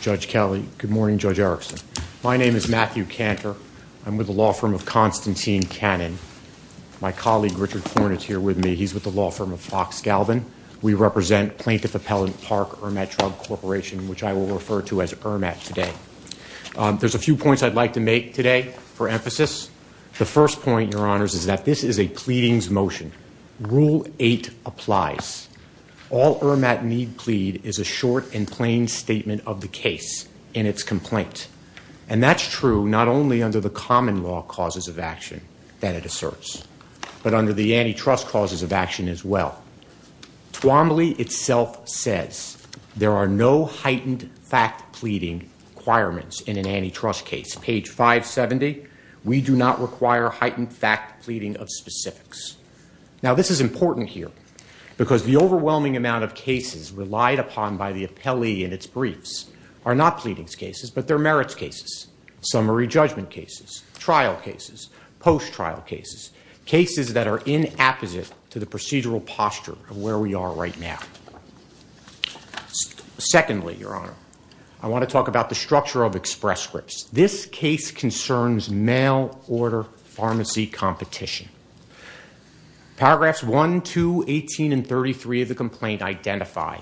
Judge Kelly. Good morning, Judge Erickson. My name is Matthew Kantor. I'm with the law firm of Constantine Cannon. My colleague Richard Horn is here with me. He's with the law firm of Fox Galvin. We represent Plaintiff Appellant Park Irmat Drug Corporation, which I will refer to as Irmat today. There's a few points I'd like to make today for emphasis. The first point, Your Honors, is that this is a pleadings motion. Rule 8 applies. All Irmat need plead is a short and plain statement of the case in its complaint. And that's true not only under the common law causes of action that it asserts, but under the antitrust causes of action as well. Tuomly itself says there are no heightened fact pleading requirements in an antitrust case. Page 570, we do not require heightened fact pleading of specifics. Now this is important here because the overwhelming amount of cases relied upon by the appellee in its briefs are not pleadings cases, but they're merits cases, summary judgment cases, trial cases, post-trial cases, cases that are in apposite to the procedural posture of where we are right now. Secondly, Your Honor, I want to talk about the structure of Express Scripts. This case concerns mail order pharmacy competition. Paragraphs 1, 2, 18, and 33 of the complaint identify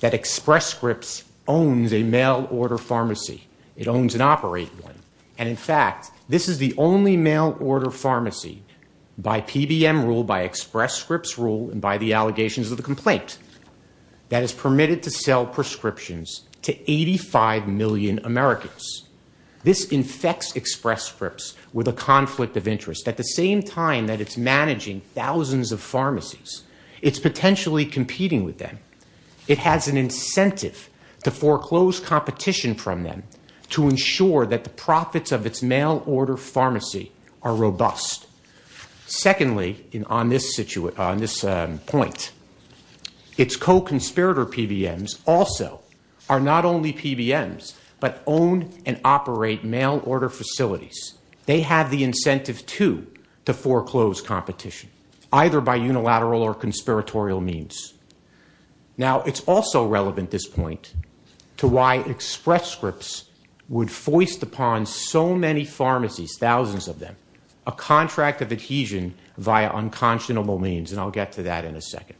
that Express Scripts owns a mail order pharmacy. It owns and operates one. And in fact, this is the only mail order pharmacy by PBM rule, by Express Scripts rule, and by the allegations of the complaint that is permitted to sell in Americans. This infects Express Scripts with a conflict of interest. At the same time that it's managing thousands of pharmacies, it's potentially competing with them. It has an incentive to foreclose competition from them to ensure that the profits of its mail order pharmacy are robust. Secondly, on this point, its co-conspirator PBMs also are not only PBMs, but own and operate mail order facilities. They have the incentive, too, to foreclose competition, either by unilateral or conspiratorial means. Now, it's also relevant this point to why Express Scripts would foist upon so many pharmacies, thousands of them, a contract of adhesion via unconscionable means, and I'll get to that in a second.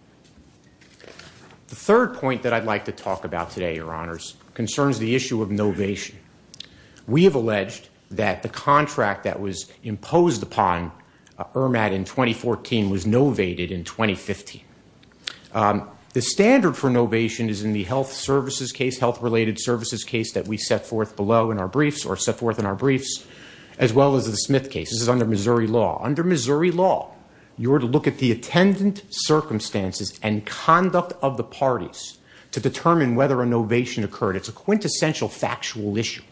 The third point that I'd like to talk about today, Your Honors, concerns the issue of novation. We have alleged that the contract that was imposed upon EIRMAT in 2014 was novated in 2015. The standard for novation is in the health services case, health-related services case that we set forth below in our briefs, or set forth in our briefs, as well as the Smith case. This is under Missouri law. Under Missouri law, you are to look at the attendant circumstances and conduct of the parties to determine whether a novation occurred. It's a quintessential factual issue.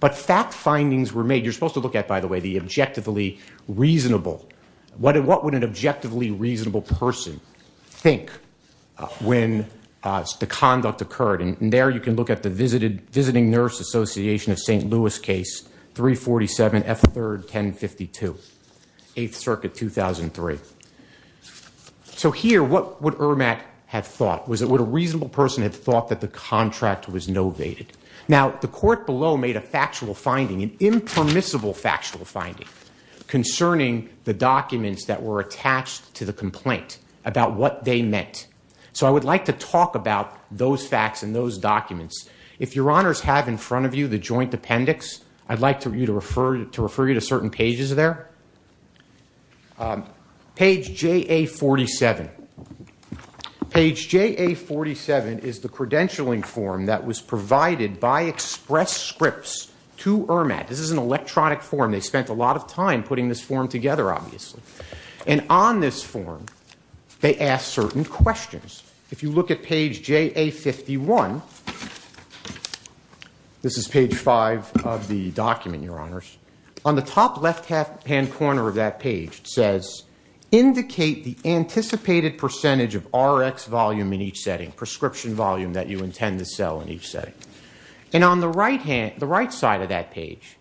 But fact findings were made. You're supposed to look at, by the way, the objectively reasonable. What would an objectively reasonable person think when the conduct occurred? And there you can look at the Visiting Nurse Association of St. Louis case, 347 F. 3rd, 1052, 8th Circuit, 2003. So here, what would EIRMAT have thought? Would a reasonable person have thought that the contract was novated? Now, the court below made a factual finding, an impermissible factual finding, concerning the documents that were attached to the complaint about what they meant. So I would like to talk about those facts and those documents. If Your Honors have in front of you the joint appendix, I'd like to refer you to certain pages there. Page JA-47. Page JA-47 is the credentialing form that was provided by Express Scripts to EIRMAT. This is an electronic form. They spent a lot of time putting this form together, obviously. And on this form, they asked certain questions. If you look at page JA-51, this corner of that page says, Indicate the anticipated percentage of RX volume in each setting, prescription volume that you intend to sell in each setting. And on the right side of that page,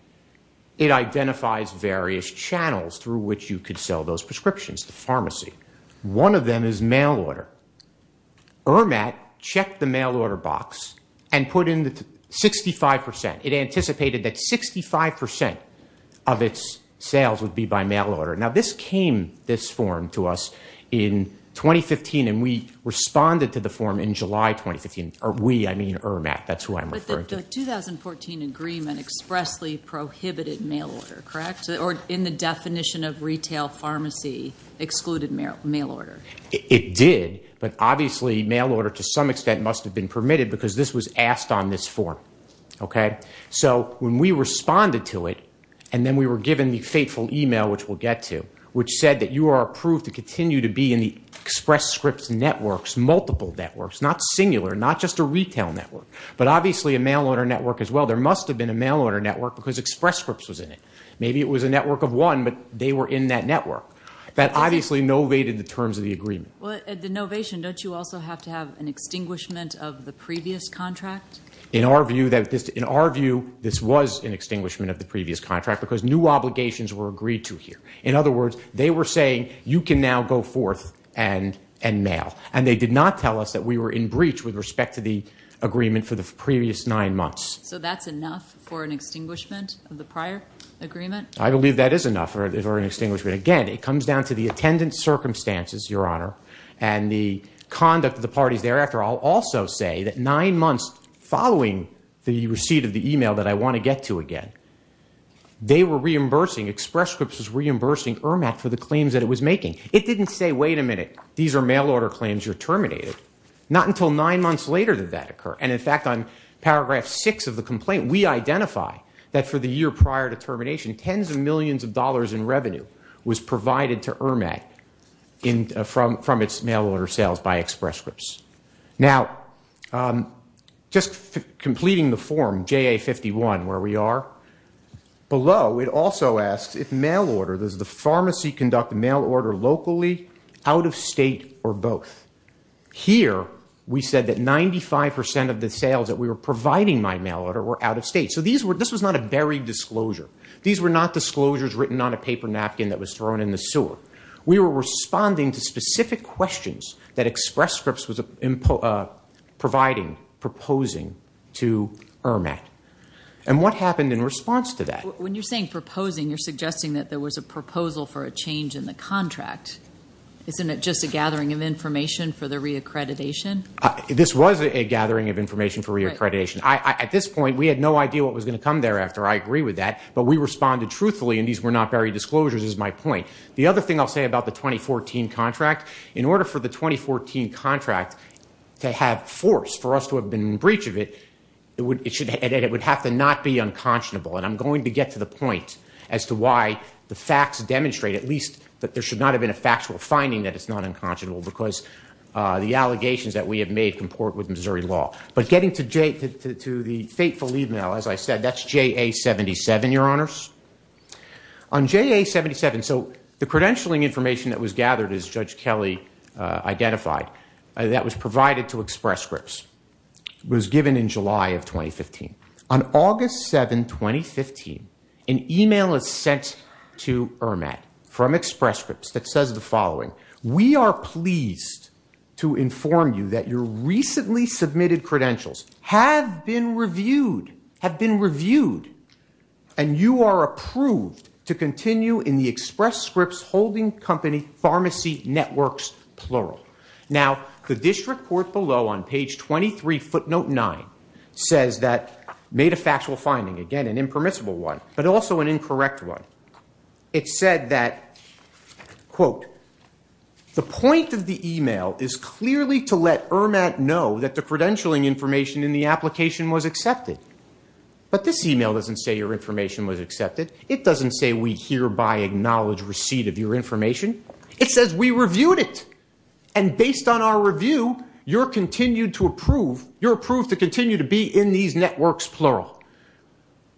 it identifies various channels through which you could sell those prescriptions, the pharmacy. One of them is mail order. EIRMAT checked the mail order box and put in 65 percent. It anticipated that 65 percent of its sales would be by mail order. Now, this came, this form, to us in 2015, and we responded to the form in July 2015. We, I mean EIRMAT. That's who I'm referring to. But the 2014 agreement expressly prohibited mail order, correct? Or in the definition of retail pharmacy, excluded mail order. It did, but obviously mail order to some extent must have been permitted because this was asked on this form, okay? So when we responded to it, and then we were given the fateful email, which we'll get to, which said that you are approved to continue to be in the Express Scripts networks, multiple networks, not singular, not just a retail network, but obviously a mail order network as well. There must have been a mail order network because Express Scripts was in it. Maybe it was a network of one, but they were in that network. That obviously novated the terms of the agreement. Well, at the novation, don't you also have to have an extinguishment of the previous contract? In our view, this was an extinguishment of the previous contract because new obligations were agreed to here. In other words, they were saying you can now go forth and mail. And they did not tell us that we were in breach with respect to the agreement for the previous nine months. So that's enough for an extinguishment of the prior agreement? I believe that is enough for an extinguishment. Again, it comes down to the attendance circumstances, Your Honor, and the conduct of the parties thereafter. I'll also say that nine months following the receipt of the email that I want to get to again, they were reimbursing, Express Scripts was reimbursing EIRMC for the claims that it was making. It didn't say, wait a minute, these are mail order claims, you're terminated. Not until nine months later did that occur. And in fact, on paragraph six of the complaint, we identify that for the year prior to termination, tens of millions of dollars in revenue was provided to EIRMC from its mail order sales by Express Scripts. Now, just completing the form, JA-51, where we are, below it also asks if mail order, does the pharmacy conduct mail order locally, out of state, or both? Here, we said that 95% of the sales that we were providing by mail order were out of state. So this was not a buried disclosure. These were not disclosures written on a paper napkin that was thrown in the sewer. We were responding to specific questions that Express Scripts was providing, proposing to EIRMC. And what happened in response to that? When you're saying proposing, you're suggesting that there was a proposal for a change in the contract. Isn't it just a gathering of information for the reaccreditation? This was a gathering of information for reaccreditation. At this point, we had no idea what was going to come thereafter. I agree with that. But we responded truthfully, and these were not buried disclosures, is my point. The other thing I'll say about the 2014 contract, in order for the 2014 contract to have force for us to have been in breach of it, it would have to not be unconscionable. And I'm going to get to the point as to why the facts demonstrate, at least, that there should not have been a factual finding that it's not unconscionable, because the allegations that we have made comport with Missouri law. But getting to the fateful email, as I said, that's JA-77, Your Honors. On JA-77, so the credentialing information that was gathered, as Judge Kelly identified, that was provided to Express Scripts was given in July of 2015. On August 7, 2015, an email is sent to EIRMC from Express Scripts that says the following, we are pleased to inform you that your recently submitted credentials have been reviewed, have been reviewed, and you are approved to continue in the Express Scripts holding company pharmacy networks, plural. Now the district court below on page 23, footnote 9, says that, made a factual finding, again an impermissible one, but also an incorrect one. It said that, quote, the point of the credentialing information in the application was accepted. But this email doesn't say your information was accepted. It doesn't say we hereby acknowledge receipt of your information. It says we reviewed it, and based on our review, you're approved to continue to be in these networks, plural.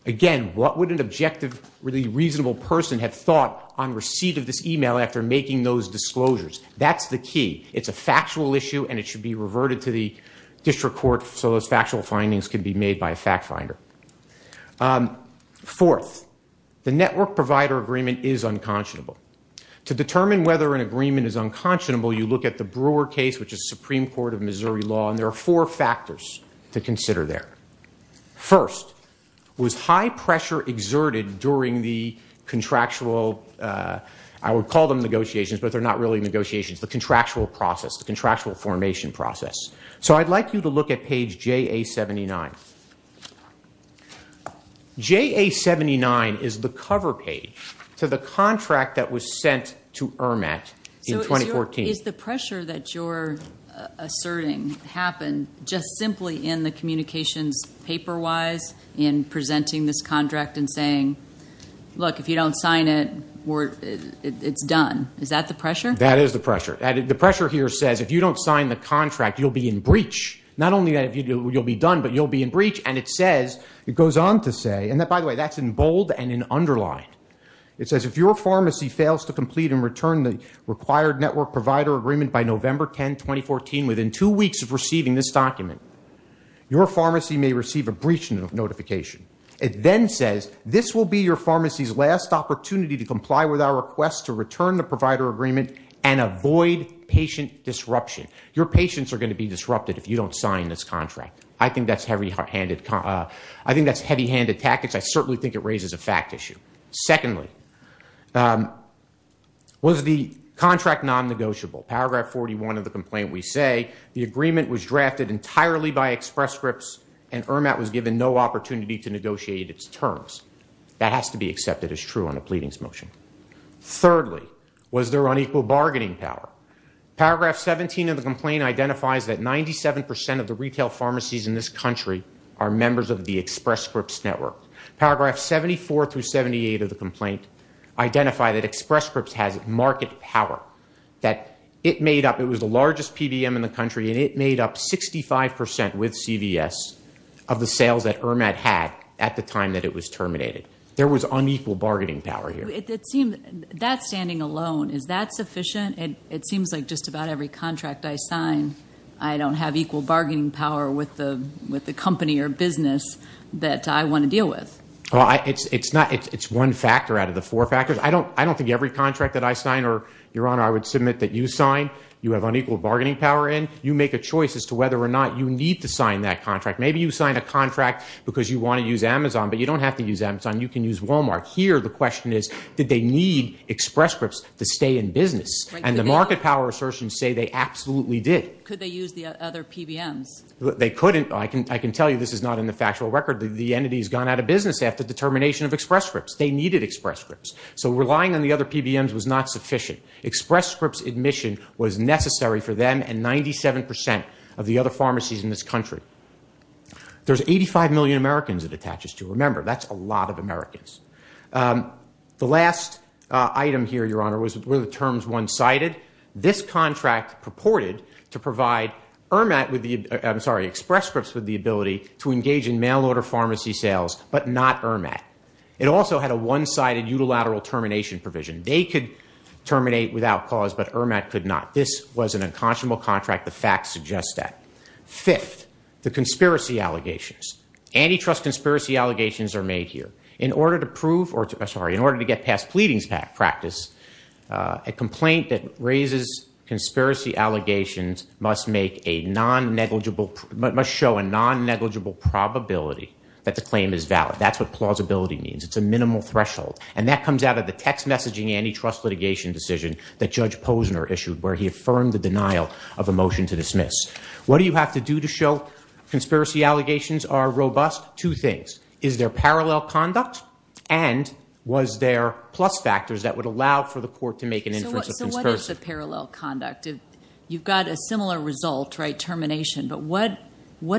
Again, what would an objective, really reasonable person have thought on receipt of this email after making those disclosures? That's the key. It's a factual issue and it should be reverted to the district court so those factual findings can be made by a fact finder. Fourth, the network provider agreement is unconscionable. To determine whether an agreement is unconscionable, you look at the Brewer case, which is Supreme Court of Missouri law, and there are four factors to consider there. First, was high pressure exerted during the contractual, I would call them negotiations, but they're not really negotiations, the contractual process, the contractual formation process. So I'd like you to look at page JA-79. JA-79 is the cover page to the contract that was sent to EIRMC in 2014. So is the pressure that you're asserting happened just simply in the communications paper-wise in presenting this contract and saying, look, if you don't sign it, it's done. Is that the pressure? That is the pressure. The pressure here says if you don't sign the contract, you'll be in breach. Not only that you'll be done, but you'll be in breach. And it says, it goes on to say, and by the way, that's in bold and in underlined. It says, if your pharmacy fails to complete and return the required network provider agreement by November 10, 2014, within two weeks of receiving this document, your pharmacy may receive a breach notification. It then says, this will be your pharmacy's last opportunity to comply with our request to return the provider agreement and avoid patient disruption. Your patients are going to be disrupted if you don't sign this contract. I think that's heavy-handed tactics. I certainly think it raises a fact issue. Secondly, was the contract non-negotiable? Paragraph 41 of the complaint, we say, the agreement was drafted entirely by Express Scripts and EIRMC was given no opportunity to negotiate its terms. That has to be accepted as true on a pleadings motion. Thirdly, was there unequal bargaining power? Paragraph 17 of the complaint identifies that 97% of the retail pharmacies in this country are members of the Express Scripts network. Paragraph 74 through 78 of the complaint identify that Express Scripts has market power, that it made up, it was the largest PBM in the country, and it made up 65% with CVS of the contract at the time that it was terminated. There was unequal bargaining power here. That standing alone, is that sufficient? It seems like just about every contract I sign, I don't have equal bargaining power with the company or business that I want to deal with. It's one factor out of the four factors. I don't think every contract that I sign or, Your Honor, I would submit that you sign, you have unequal bargaining power in. You make a choice as to whether or not you need to sign that contract. Maybe you signed a contract to use Amazon, but you don't have to use Amazon. You can use Walmart. Here, the question is, did they need Express Scripts to stay in business? The market power assertions say they absolutely did. Could they use the other PBMs? They couldn't. I can tell you this is not in the factual record. The entity has gone out of business after the termination of Express Scripts. They needed Express Scripts. Relying on the other PBMs was not sufficient. Express Scripts admission was necessary for them and a lot of Americans. The last item here, Your Honor, were the terms one-sided. This contract purported to provide Express Scripts with the ability to engage in mail-order pharmacy sales, but not ERMAT. It also had a one-sided unilateral termination provision. They could terminate without cause, but ERMAT could not. This was an unconscionable contract. The facts suggest that. Fifth, the conspiracy allegations. Antitrust conspiracy allegations are made here. In order to get past pleadings practice, a complaint that raises conspiracy allegations must show a non-negligible probability that the claim is valid. That's what plausibility means. It's a minimal threshold. That comes out of the text messaging antitrust litigation decision that Judge Posner issued, where he affirmed the denial of a motion to dismiss. What do you have to do to show conspiracy allegations are robust? Two things. Is there parallel conduct and was there plus factors that would allow for the court to make an inference of conspiracy? What is the parallel conduct? You've got a similar result, termination, but what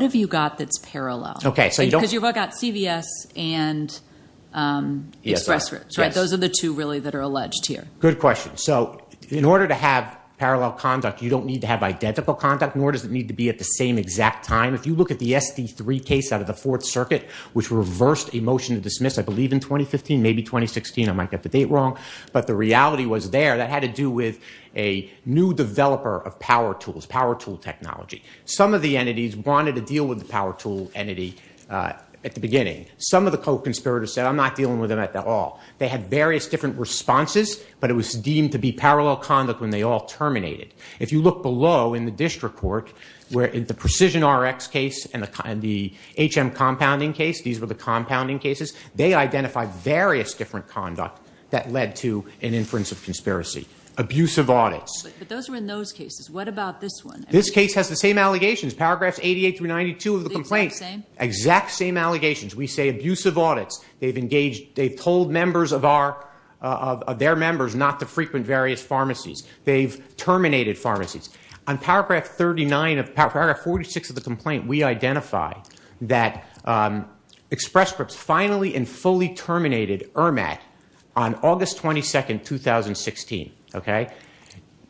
have you got that's parallel? You've got CVS and Express Scripts. Those are the two really that are alleged here. Good question. In order to have parallel conduct, you don't need to have identical conduct, nor does it need to be at the same exact time. If you look at the SD3 case out of the Fourth Circuit, which reversed a motion to dismiss, I believe in 2015, maybe 2016, I might get the date wrong, but the reality was there, that had to do with a new developer of power tools, power tool technology. Some of the entities wanted to deal with the power tool entity at the beginning. Some of the co-conspirators said, I'm not dealing with them at all. They had various different responses, but it was deemed to be parallel conduct when they all terminated. If you look below in the district court, where in the PrecisionRx case and the HM Compounding case, these were the compounding cases, they identified various different conduct that led to an inference of conspiracy. Abusive audits. But those were in those cases. What about this one? This case has the same allegations. Paragraphs 88 through 92 of the complaint. The exact same? Exact same allegations. We say abusive audits. They've told members of their members not to frequent various pharmacies. They've terminated pharmacies. On paragraph 49 of the complaint, we identify that Express Scripts finally and fully terminated EIRMAT on August 22, 2016.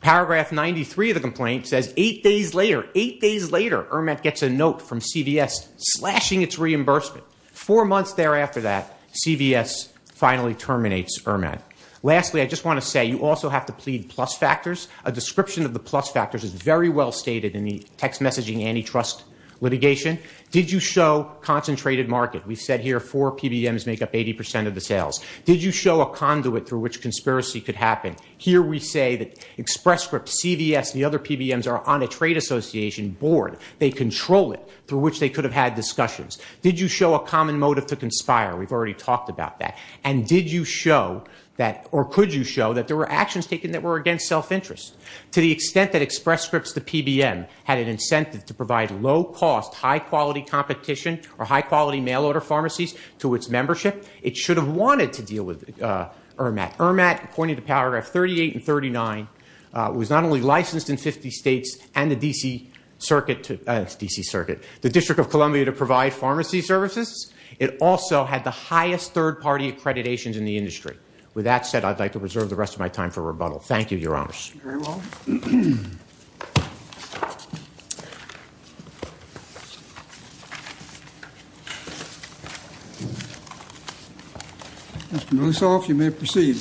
Paragraph 93 of the complaint says eight days later, eight days later, EIRMAT gets a note from CVS slashing its reimbursement. Four months thereafter that, CVS finally terminates EIRMAT. Lastly, I just want to say you also have to plead plus factors. A description of the plus factors is very well stated in the text messaging antitrust litigation. Did you show concentrated market? We've said here four PBMs make up 80% of the sales. Did you show a conduit through which conspiracy could happen? Here we say that Express Scripts, CVS, and the other PBMs are on a trade association board. They control it through which they could have had discussions. Did you show a common motive to conspire? We've already talked about that. Did you show that or could you show that there were actions taken that were against self-interest? To the extent that Express Scripts, the PBM, had an incentive to provide low cost, high quality competition or high quality mail order pharmacies to its membership, it should have wanted to deal with EIRMAT. EIRMAT, according to paragraph 38 and 39, was not only licensed in 50 states and the D.C. Circuit, the District of Columbia, to provide pharmacy services, it also had the highest third party accreditations in the industry. With that said, I'd like to reserve the rest of my time for rebuttal. Thank you, Your Honors. Very well. Mr. Mussoff, you may proceed.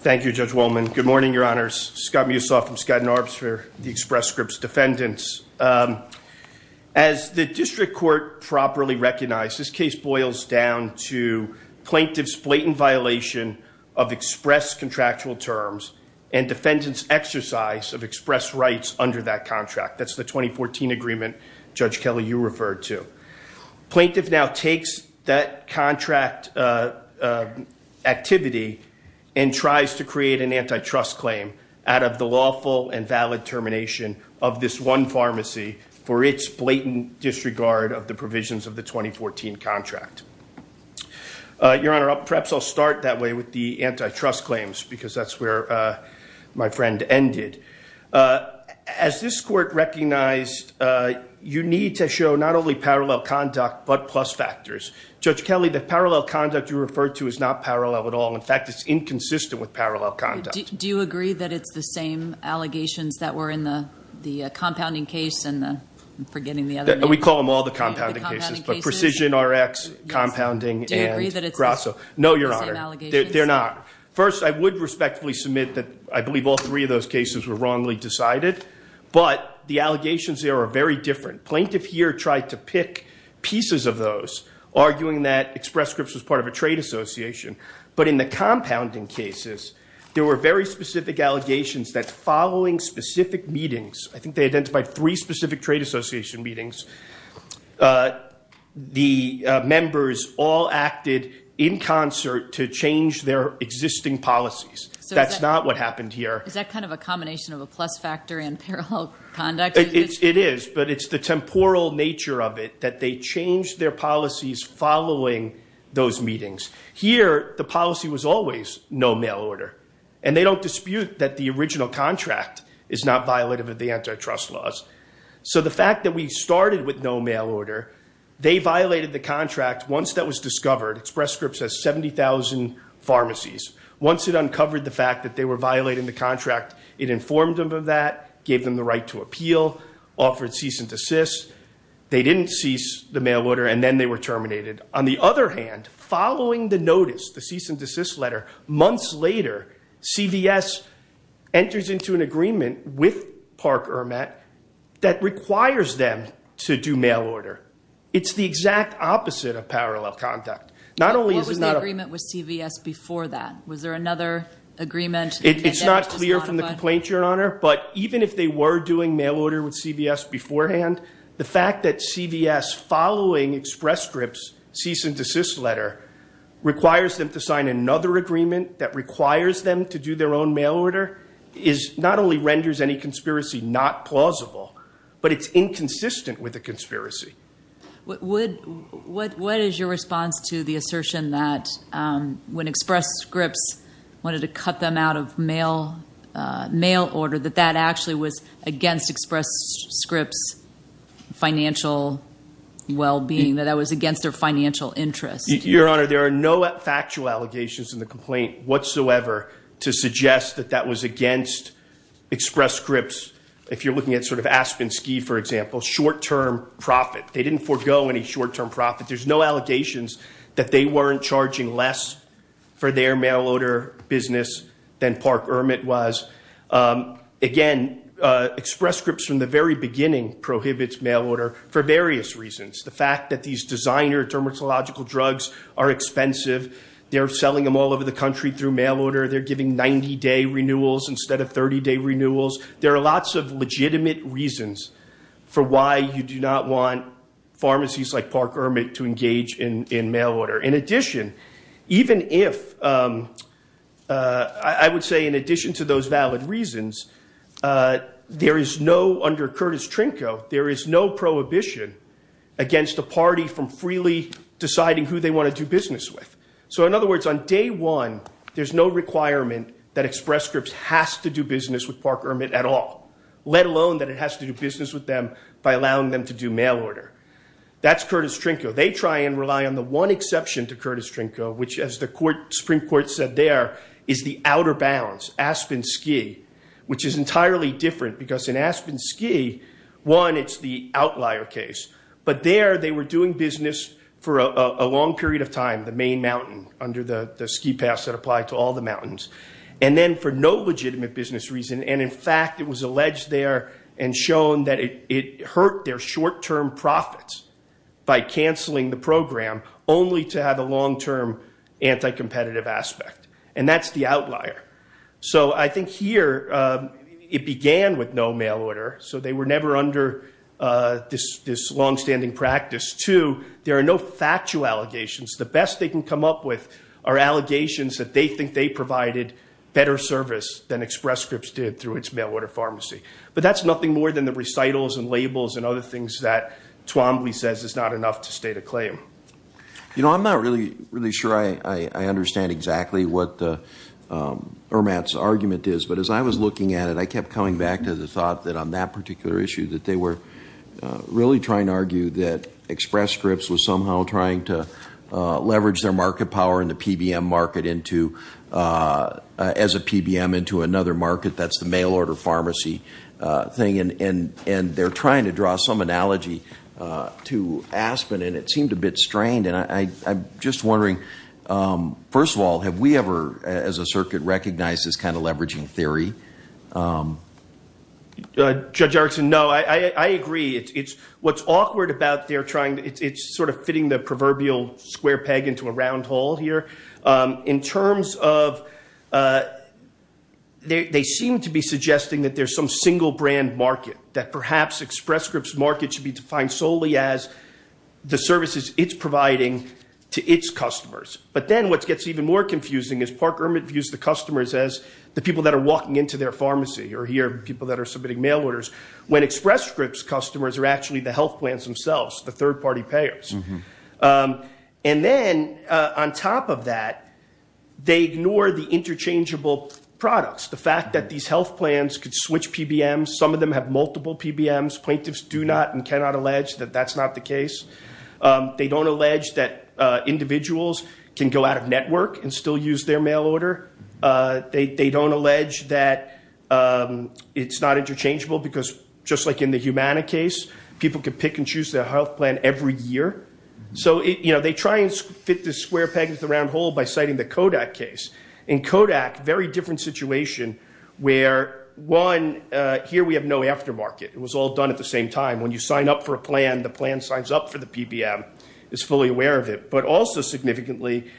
Thank you, Judge Wolman. Good morning, Your Honors. Scott Mussoff from Scott and Arb's Fair, the Express Scripts Defendants. As the district court properly recognized, this case boils down to plaintiff's blatant violation of express contractual terms and defendant's exercise of express rights under that contract. That's the 2014 agreement, Judge Kelly, you referred to. Plaintiff now takes that contract activity and tries to create an antitrust claim out of the lawful and valid termination of this one pharmacy for its blatant disregard of the provisions of the 2014 contract. Your Honor, perhaps I'll start that way with the antitrust claims, because that's where my friend ended. As this court recognized, you need to show not only parallel conduct but plus factors. Judge Kelly, the parallel conduct you referred to is not parallel at all. In fact, it's inconsistent with parallel conduct. Do you agree that it's the same allegations that were in the compounding case? We call them all the compounding cases, but precision, RX, compounding, and Grasso. No, Your Honor, they're not. First, I would respectfully submit that I believe all three of those cases were wrongly decided, but the allegations there are very different. Plaintiff here tried to pick pieces of those, arguing that Express Scripts was part of a trade association, but in the compounding cases, there were very specific allegations that following specific meetings, I think they identified three specific trade association meetings, the members all acted in concert to change their existing policies. That's not what happened here. Is that kind of a combination of a plus factor and parallel conduct? It is, but it's the temporal nature of it that they changed their policies following those meetings. Here, the policy was always no mail order, and they don't dispute that the original contract is not violative of the antitrust laws. So the fact that we started with no mail order, they violated the contract once that was discovered. Express Scripts has 70,000 pharmacies. Once it uncovered the fact that they were violating the contract, it informed them of that, gave them the right to appeal, offered cease and desist. They didn't cease the mail order, and then they were terminated. On the other hand, following the notice, the cease and desist letter, months later, CVS enters into an agreement with Park Hermat that requires them to do mail order. It's the exact opposite of parallel conduct. What was the agreement with CVS before that? Was there another agreement? It's not clear from the complaint, Your Honor, but even if they were doing mail order with a cease and desist letter, requires them to sign another agreement that requires them to do their own mail order, not only renders any conspiracy not plausible, but it's inconsistent with a conspiracy. What is your response to the assertion that when Express Scripts wanted to cut them out of mail order, that that actually was against Express Scripts' financial well-being, that that was against their financial interest? Your Honor, there are no factual allegations in the complaint whatsoever to suggest that that was against Express Scripts. If you're looking at sort of Aspensky, for example, short-term profit, they didn't forego any short-term profit. There's no allegations that they weren't charging less for their mail order business than Park Hermat was. Again, Express Scripts from the very beginning prohibits mail order for various reasons. The fact that these designer dermatological drugs are expensive, they're selling them all over the country through mail order, they're giving 90-day renewals instead of 30-day renewals, there are lots of legitimate reasons for why you do not want pharmacies like Park Hermat to engage in mail order. In addition, even if, I would say in addition to those valid reasons, there is no, under So in other words, on day one, there's no requirement that Express Scripts has to do business with Park Hermat at all, let alone that it has to do business with them by allowing them to do mail order. That's Curtis Trinko. They try and rely on the one exception to Curtis Trinko, which as the Supreme Court said there, is the outer bounds, Aspensky, which is entirely different because in Aspensky, one, it's the outlier case, but there they were doing business for a long period of time, the main mountain, under the ski pass that applied to all the mountains, and then for no legitimate business reason, and in fact it was alleged there and shown that it hurt their short-term profits by canceling the program only to have a long-term anti-competitive aspect, and that's the outlier. So I think here, it began with no mail order, so they were never under this long-standing practice. Two, there are no factual allegations. The best they can come up with are allegations that they think they provided better service than Express Scripts did through its mail order pharmacy, but that's nothing more than the recitals and labels and other things that Twombly says is not enough to state a claim. You know, I'm not really sure I understand exactly what EIRMAT's argument is, but as I was looking at it, I kept coming back to the thought that on that particular issue that they were really trying to argue that Express Scripts was somehow trying to leverage their market power in the PBM market as a PBM into another market, that's the mail order pharmacy thing, and they're trying to draw some analogy to Aspen, and it seemed a bit strained, and I'm just wondering, first of all, have we ever, as a circuit, recognized this kind of leveraging theory? Judge Erickson, no. I agree. What's awkward about their trying to, it's sort of fitting the proverbial square peg into a round hole here. In terms of, they seem to be suggesting that there's some single brand market, that perhaps Express Scripts' market should be providing to its customers, but then what gets even more confusing is Park EIRMAT views the customers as the people that are walking into their pharmacy, or here, people that are submitting mail orders, when Express Scripts' customers are actually the health plans themselves, the third party payers. And then, on top of that, they ignore the interchangeable products, the fact that these health plans could switch PBMs, some of them have multiple PBMs, plaintiffs do not and cannot allege that that's not the case. They don't allege that individuals can go out of network and still use their mail order. They don't allege that it's not interchangeable, because just like in the Humana case, people can pick and choose their health plan every year. So, they try and fit the square peg into the round hole by citing the Kodak case. In Kodak, very different situation, where one, here we have no aftermarket, it was all done at the same time. When you sign up for a plan, the plan signs up for the PBM, it's fully aware of it. But also, significantly,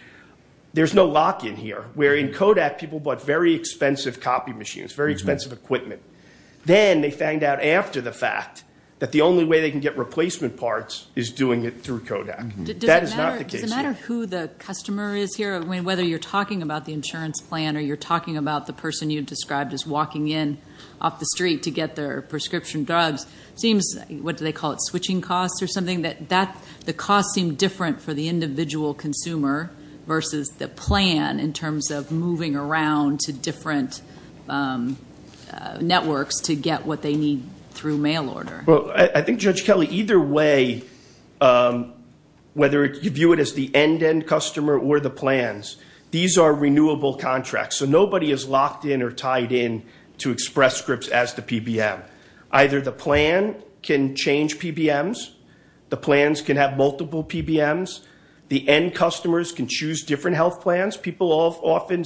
there's no lock in here, where in Kodak, people bought very expensive copy machines, very expensive equipment. Then, they find out after the fact that the only way they can get replacement parts is doing it through Kodak. That is not the case here. Does it matter who the customer is here, whether you're talking about the insurance plan, or you're talking about the person you described is walking in off the street to get their prescription drugs. It seems, what do they call it, switching costs or something? The costs seem different for the individual consumer versus the plan, in terms of moving around to different networks to get what they need through mail order. I think, Judge Kelly, either way, whether you view it as the end-end customer or the plans, these are renewable contracts. So, nobody is locked in or tied in to Express Scripts as the PBM. Either the plan can change PBMs, the plans can have multiple PBMs, the end customers can choose different health plans. People often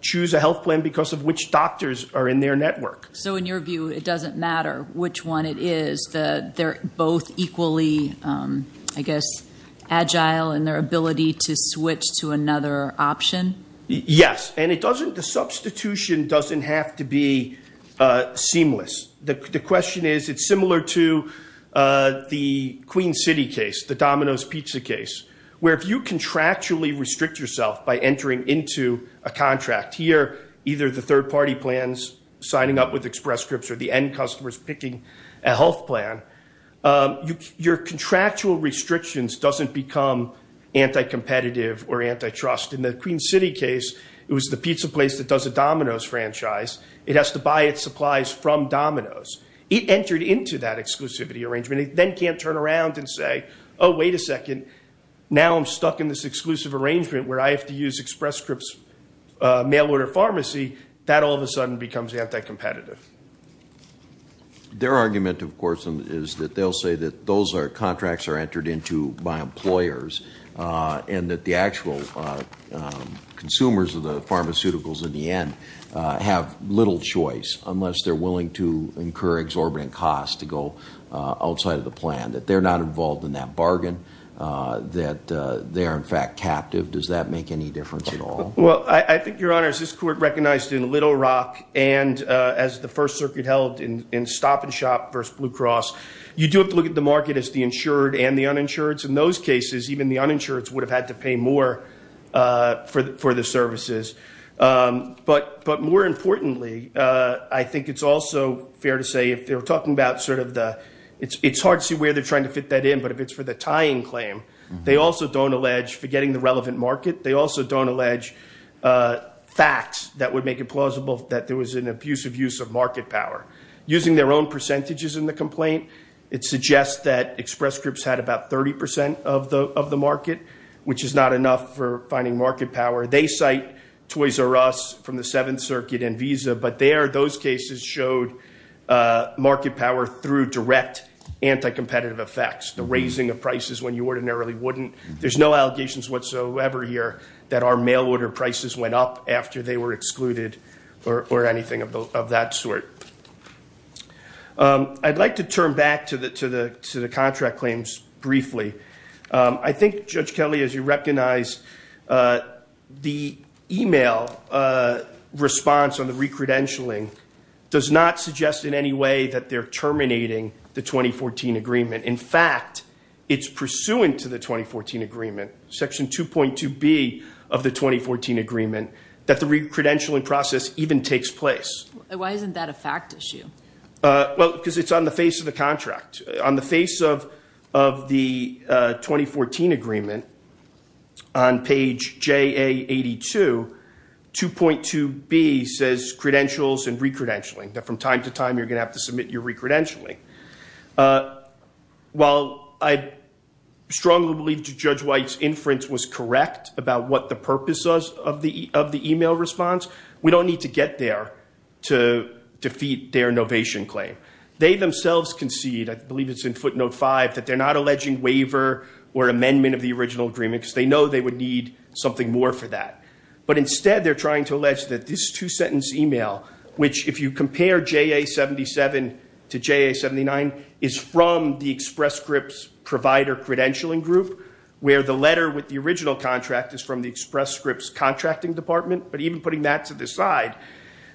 choose a health plan because of which doctors are in their network. So, in your view, it doesn't matter which one it is. They're both equally, I guess, agile in their ability to switch to another option? Yes. And the substitution doesn't have to be seamless. The question is, it's similar to the Queen City case, the Domino's Pizza case, where if you contractually restrict yourself by entering into a contract here, either the third-party plans signing up with Express Scripts or the end customers picking a health plan, your contractual restrictions doesn't become anti-competitive or anti-trust. In the Queen City case, it was the pizza place that does a Domino's franchise. It has to buy its supplies from Domino's. It entered into that exclusivity arrangement. It then can't turn around and say, oh, wait a second, now I'm stuck in this exclusive arrangement where I have to use Express Scripts mail order pharmacy. That all of a sudden becomes anti-competitive. Their argument, of course, is that they'll say that those contracts are entered into by employers and that the actual consumers of the pharmaceuticals in the end have little choice unless they're willing to incur exorbitant costs to go outside of the plan, that they're not involved in that bargain, that they are, in fact, captive. Does that make any difference at all? Well, I think, Your Honor, as this court recognized in Little Rock and as the First Circuit held in Stop and Shop versus Blue Cross, you do have to look at the market as the insured and the uninsured. In those cases, even the uninsured would have had to pay more for the services. But more importantly, I think it's also fair to say if they're talking about sort of the, it's hard to see where they're trying to fit that in, but if it's for the facts that would make it plausible that there was an abusive use of market power. Using their own percentages in the complaint, it suggests that express groups had about 30 percent of the market, which is not enough for finding market power. They cite Toys R Us from the Seventh Circuit and Visa, but there, those cases showed market power through direct anti-competitive effects, the raising of prices when you ordinarily wouldn't. There's no allegations whatsoever here that our mail order prices went up after they were excluded or anything of that sort. I'd like to turn back to the contract claims briefly. I think, Judge Kelly, as you recognize, the email response on the recredentialing does not suggest in any way that they're terminating the 2014 agreement. In fact, it's pursuant to the 2014 agreement, Section 2.2B of the 2014 agreement, that the recredentialing process even takes place. Why isn't that a fact issue? Well, because it's on the face of the contract. On the face of the 2014 agreement, on page JA82, 2.2B says credentials and recredentialing, that from time to time you're going to have to submit your recredentialing. While I strongly believe Judge White's inference was correct about what the purpose of the email response, we don't need to get there to defeat their novation claim. They themselves concede, I believe it's in footnote 5, that they're not alleging waiver or amendment of the original agreement because they know they would need something more for that. But instead, they're trying to allege that this two-sentence email, which if you look at JA87 to JA79, is from the Express Scripts Provider Credentialing Group, where the letter with the original contract is from the Express Scripts Contracting Department. But even putting that to the side,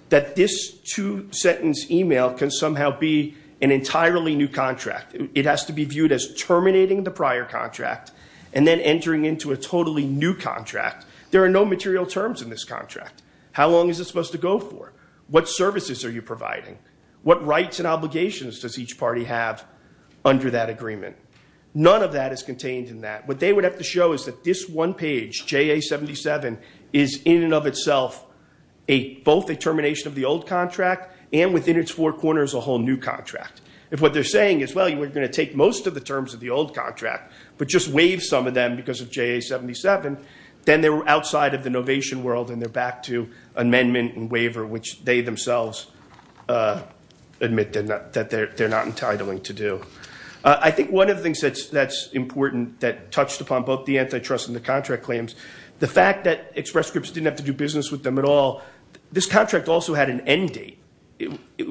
that this two-sentence email can somehow be an entirely new contract. It has to be viewed as terminating the prior contract and then entering into a totally new contract. There are no material terms in this contract. How long is it supposed to go for? What services are you providing? What rights and obligations does each party have under that agreement? None of that is contained in that. What they would have to show is that this one page, JA77, is in and of itself both a termination of the old contract and within its four corners a whole new contract. If what they're saying is, well, you were going to take most of the terms of the old contract but just waive some of them because of JA77, then they're outside of the novation world and they're back to amendment and waiver, which they themselves admit that they're not entitling to do. I think one of the things that's important that touched upon both the antitrust and the contract claims, the fact that Express Scripts didn't have to do business with them at all, this contract also had an end date.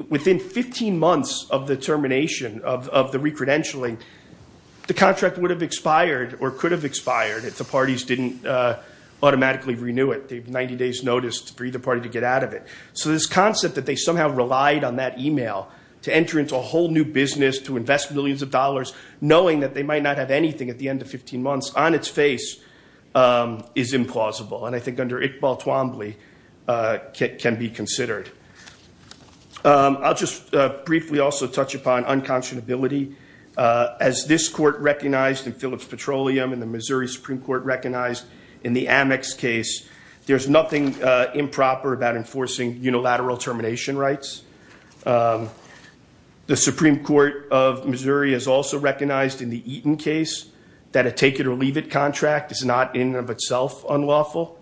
Within 15 months of the termination of the recredentialing, the contract would have expired or could have expired if the parties didn't automatically renew it. They have 90 days' notice for either party to get out of it. So this concept that they somehow relied on that email to enter into a whole new business, to invest millions of dollars, knowing that they might not have anything at the end of 15 months on its face is implausible and I think under Iqbal Twombly can be considered. I'll just briefly also touch upon unconscionability. As this court recognized in Phillips Petroleum and the Missouri Supreme Court recognized in the Amex case, there's nothing improper about enforcing unilateral termination rights. The Supreme Court of Missouri has also recognized in the Eaton case that a take it or leave it contract is not in and of itself unlawful.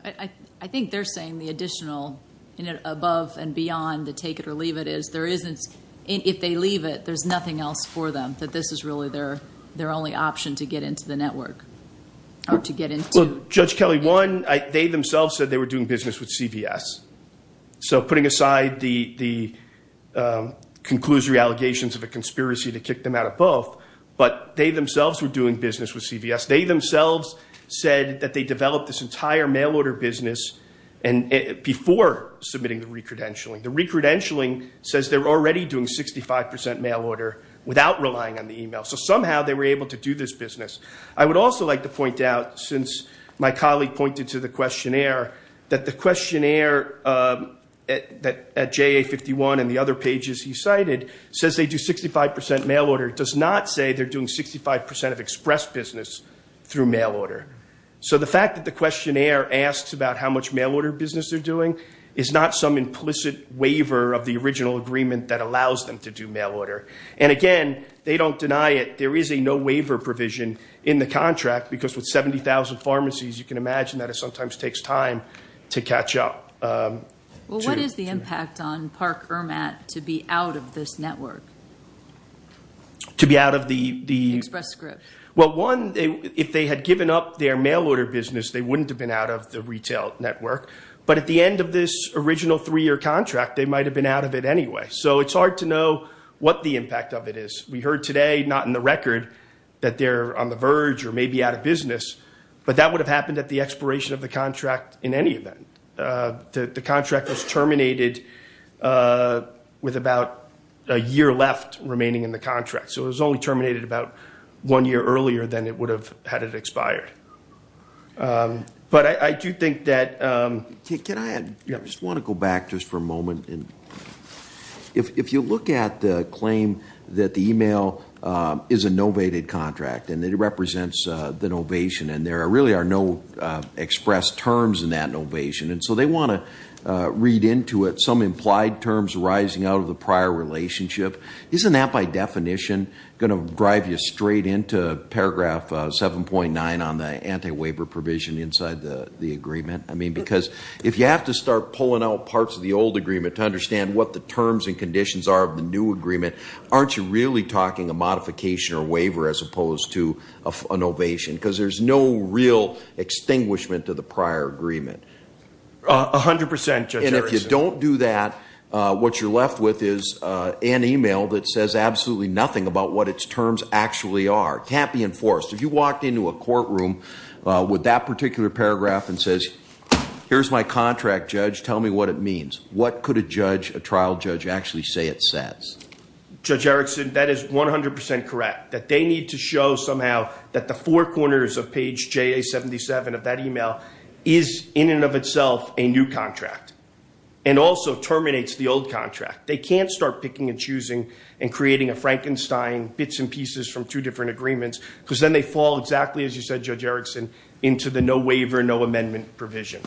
I think they're saying the additional above and beyond the take it or leave it is, if they leave it, there's nothing else for them, that this is really their only option to get into the network or to get into- Judge Kelly, one, they themselves said they were doing business with CVS. So putting aside the conclusory allegations of a conspiracy to kick them out of both, but they themselves were doing business with CVS. They themselves said that they developed this entire mail order business before submitting the re-credentialing. The re-credentialing says they're already doing 65% mail order without relying on the email. So somehow they were able to do this business. I would also like to point out, since my colleague pointed to the questionnaire, that the questionnaire at JA51 and the other pages he cited says they do 65% mail order. It does not say they're doing 65% of express business through mail order. So the fact that the questionnaire asks about how much mail order business they're doing is not some implicit waiver of the original agreement that allows them to do mail order. And again, they don't deny it. There is a no waiver provision in the contract because with 70,000 pharmacies, you can imagine that it sometimes takes time to catch up. Well, what is the impact on Park-Ermat to be out of this network? To be out of the... Express script. Well, one, if they had given up their mail order business, they wouldn't have been out of the retail network. But at the end of this original three-year contract, they might have been out of it anyway. So it's hard to know what the impact of it is. We heard today, not in the record, that they're on the verge or maybe out of business. But that would have happened at the expiration of the contract in any event. The contract was terminated with about a year left remaining in the contract. So it was only terminated about one year earlier than it would have had it expired. But I do think that... Can I just want to go back just for a moment? If you look at the claim that the email is a novated contract and it represents the novation and there really are no expressed terms in that novation. And so they want to read into it some implied terms rising out of the prior relationship. Isn't that by definition going to drive you straight into paragraph 7.9 on the anti-waiver provision inside the agreement? I mean, because if you have to start pulling out parts of the old agreement to understand what the terms and conditions are of the new agreement, aren't you really talking a modification or waiver as opposed to a novation? Because there's no real extinguishment to the prior agreement. A hundred percent, Judge Erickson. And if you don't do that, what you're left with is an email that says absolutely nothing about what its terms actually are. It can't be enforced. If you walked into a courtroom with that particular paragraph and says, here's my contract, judge, tell me what it means. What could a trial judge actually say it says? Judge Erickson, that is 100% correct. That they need to show somehow that the four corners of page JA-77 of that email is in and of itself a new contract and also terminates the old contract. They can't start picking and choosing and creating a Frankenstein bits and pieces from two different agreements because then they fall exactly as you said, Judge Erickson, into the no waiver, no amendment provision.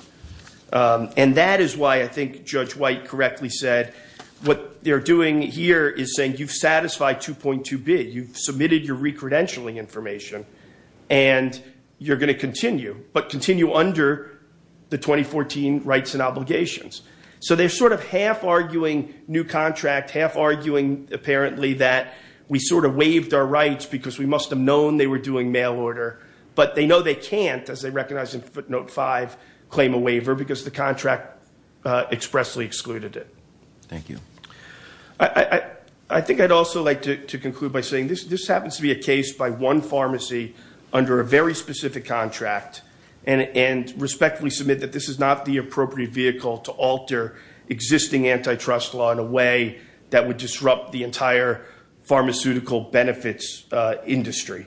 And that is why I think Judge White correctly said, what they're doing here is saying, you've satisfied 2.2B. You've submitted your recredentialing information and you're going to continue, but continue under the 2014 rights and obligations. So they're sort of half arguing new contract, half arguing apparently that we sort of waived our rights because we must have known they were doing mail order. But they know they can't, as they recognize in footnote five, claim a waiver because the contract expressly excluded it. Thank you. I think I'd also like to conclude by saying this happens to be a case by one pharmacy under a very specific contract and respectfully submit that this is not the appropriate vehicle to alter existing antitrust law in a way that would disrupt the entire pharmaceutical benefits industry.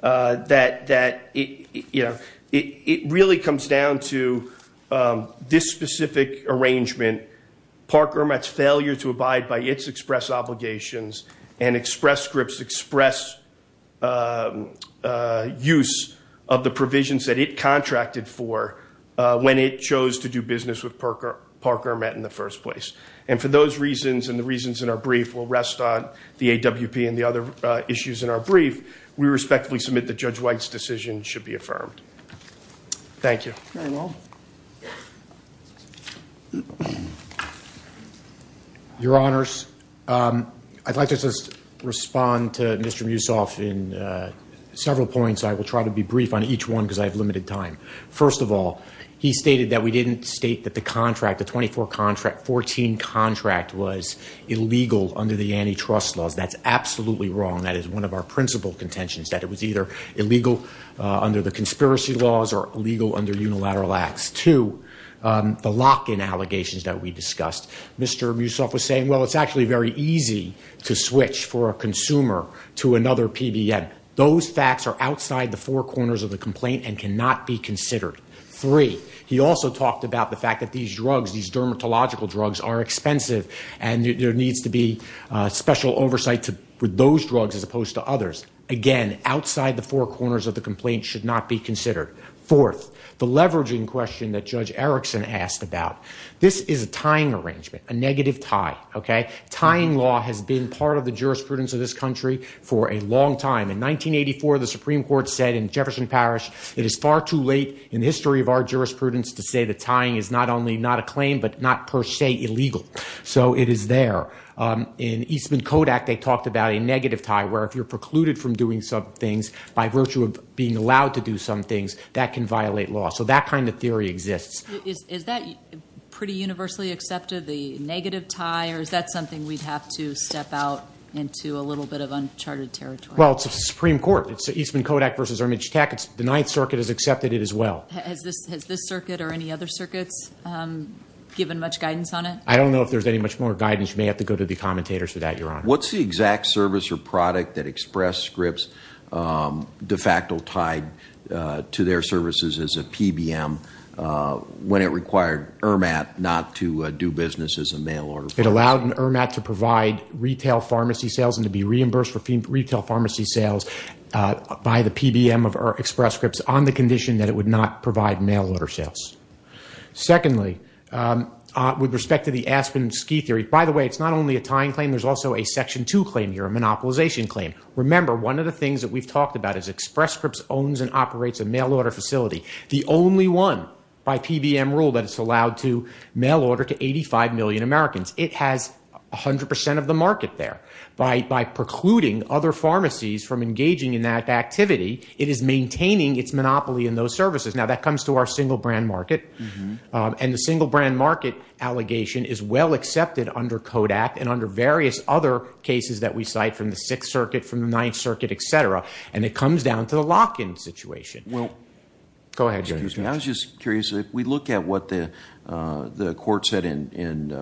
That it really comes down to this specific arrangement, Park Hermat's failure to abide by its express obligations and Express Script's express use of the provisions that it contracted for when it chose to do business with Park Hermat in the first place. And for those reasons and the reasons in our brief will rest on the AWP and the other issues in our brief, we respectfully submit that Judge White's decision should be affirmed. Thank you. Very well. Your Honors, I'd like to just respond to Mr. Musoff in several points. I will try to be brief on each one because I have limited time. First of all, he stated that we didn't state that the contract, the 24 contract, 14 contract was illegal under the antitrust laws. That's absolutely wrong. That is one of our principal contentions, that it was either illegal under the conspiracy laws or illegal under unilateral acts. Two, the lock-in allegations that we discussed, Mr. Musoff was saying, well, it's actually very easy to switch for a consumer to another PBM. Those facts are outside the four corners of the complaint and cannot be considered. Three, he also talked about the fact that these drugs, these dermatological drugs are expensive and there needs to be special oversight with those drugs as opposed to others. Again, outside the four corners of the complaint should not be considered. Fourth, the leveraging question that Judge Erickson asked about. This is a tying arrangement, a negative tie. Tying law has been part of the jurisprudence of this country for a long time. In 1984, the Supreme Court said in Jefferson Parish, it is far too late in the history of our jurisprudence to say that tying is not only not a claim, but not per se illegal. So it is there. In Eastman Kodak, they talked about a negative tie, where if you're precluded from doing some things by virtue of being allowed to do some things, that can violate law. So that kind of theory exists. Is that pretty universally accepted, the negative tie, or is that something we'd have to step out into a little bit of uncharted territory? Well, it's the Supreme Court. It's Eastman Kodak versus Ermich Tackett. The Ninth Circuit has accepted it as well. Has this circuit or any other circuits given much guidance on it? I don't know if there's any much more guidance. You may have to go to the commentators for that, Your Honor. What's the exact service or product that Express Scripts de facto tied to their services as a PBM, when it required EIRMAT not to do business as a mail-order pharmacy? It allowed EIRMAT to provide retail pharmacy sales and to be reimbursed for retail pharmacy sales by the PBM of Express Scripts on the condition that it would not provide mail-order sales. Secondly, with respect to the Aspen Ski Theory, by the way, it's not only a tying claim, there's also a Section 2 claim here, a monopolization claim. Remember, one of the things that we've talked about is Express Scripts owns and operates a mail-order facility, the only one by PBM rule that it's allowed to mail-order to 85 million Americans. It has 100 percent of the from engaging in that activity. It is maintaining its monopoly in those services. Now, that comes to our single-brand market, and the single-brand market allegation is well accepted under CODAC and under various other cases that we cite from the Sixth Circuit, from the Ninth Circuit, et cetera, and it comes down to the lock-in situation. Go ahead, Judge. Excuse me. I was just curious. If we look at what the court said in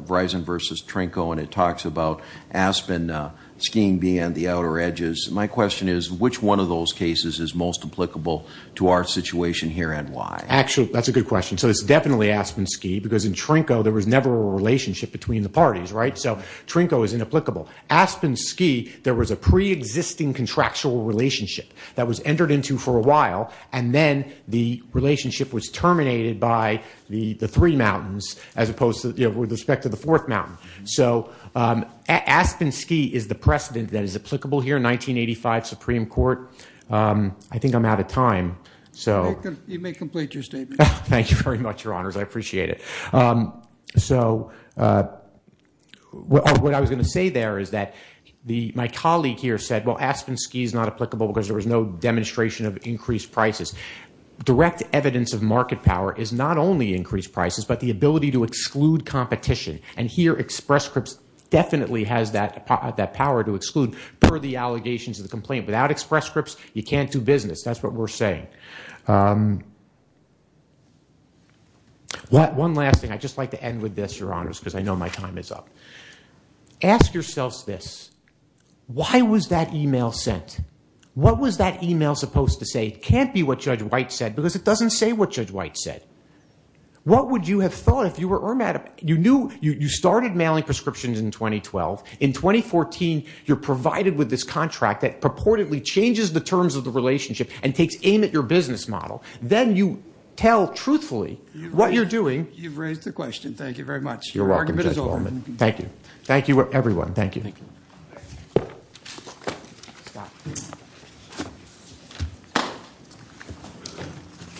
Verizon v. Trinco and it talks about Aspen skiing being on the outer edges, my question is, which one of those cases is most applicable to our situation here and why? Actually, that's a good question. So it's definitely Aspen Ski because in Trinco there was never a relationship between the parties, right? So Trinco is inapplicable. Aspen Ski, there was a pre-existing contractual relationship that was entered into for a while, and then the relationship was terminated by the three mountains as opposed to, you know, with respect to the fourth mountain. So Aspen Ski is the precedent that is applicable here, 1985 Supreme Court. I think I'm out of time. You may complete your statement. Thank you very much, Your Honors. I appreciate it. So what I was going to say there is that my colleague here said, well, Aspen Ski is not applicable because there was no demonstration of increased prices. Direct evidence of market power is not only increased prices but the And here Express Scripts definitely has that power to exclude per the allegations of the complaint. Without Express Scripts, you can't do business. That's what we're saying. One last thing. I'd just like to end with this, Your Honors, because I know my time is up. Ask yourselves this. Why was that email sent? What was that email supposed to say? Can't be what Judge White said because it doesn't say what Judge White said. What would you have thought if you were Irma? You started mailing prescriptions in 2012. In 2014, you're provided with this contract that purportedly changes the terms of the relationship and takes aim at your business model. Then you tell truthfully what you're doing. You've raised the question. Thank you very much. Your argument is over. Thank you. Thank you, everyone. Thank you.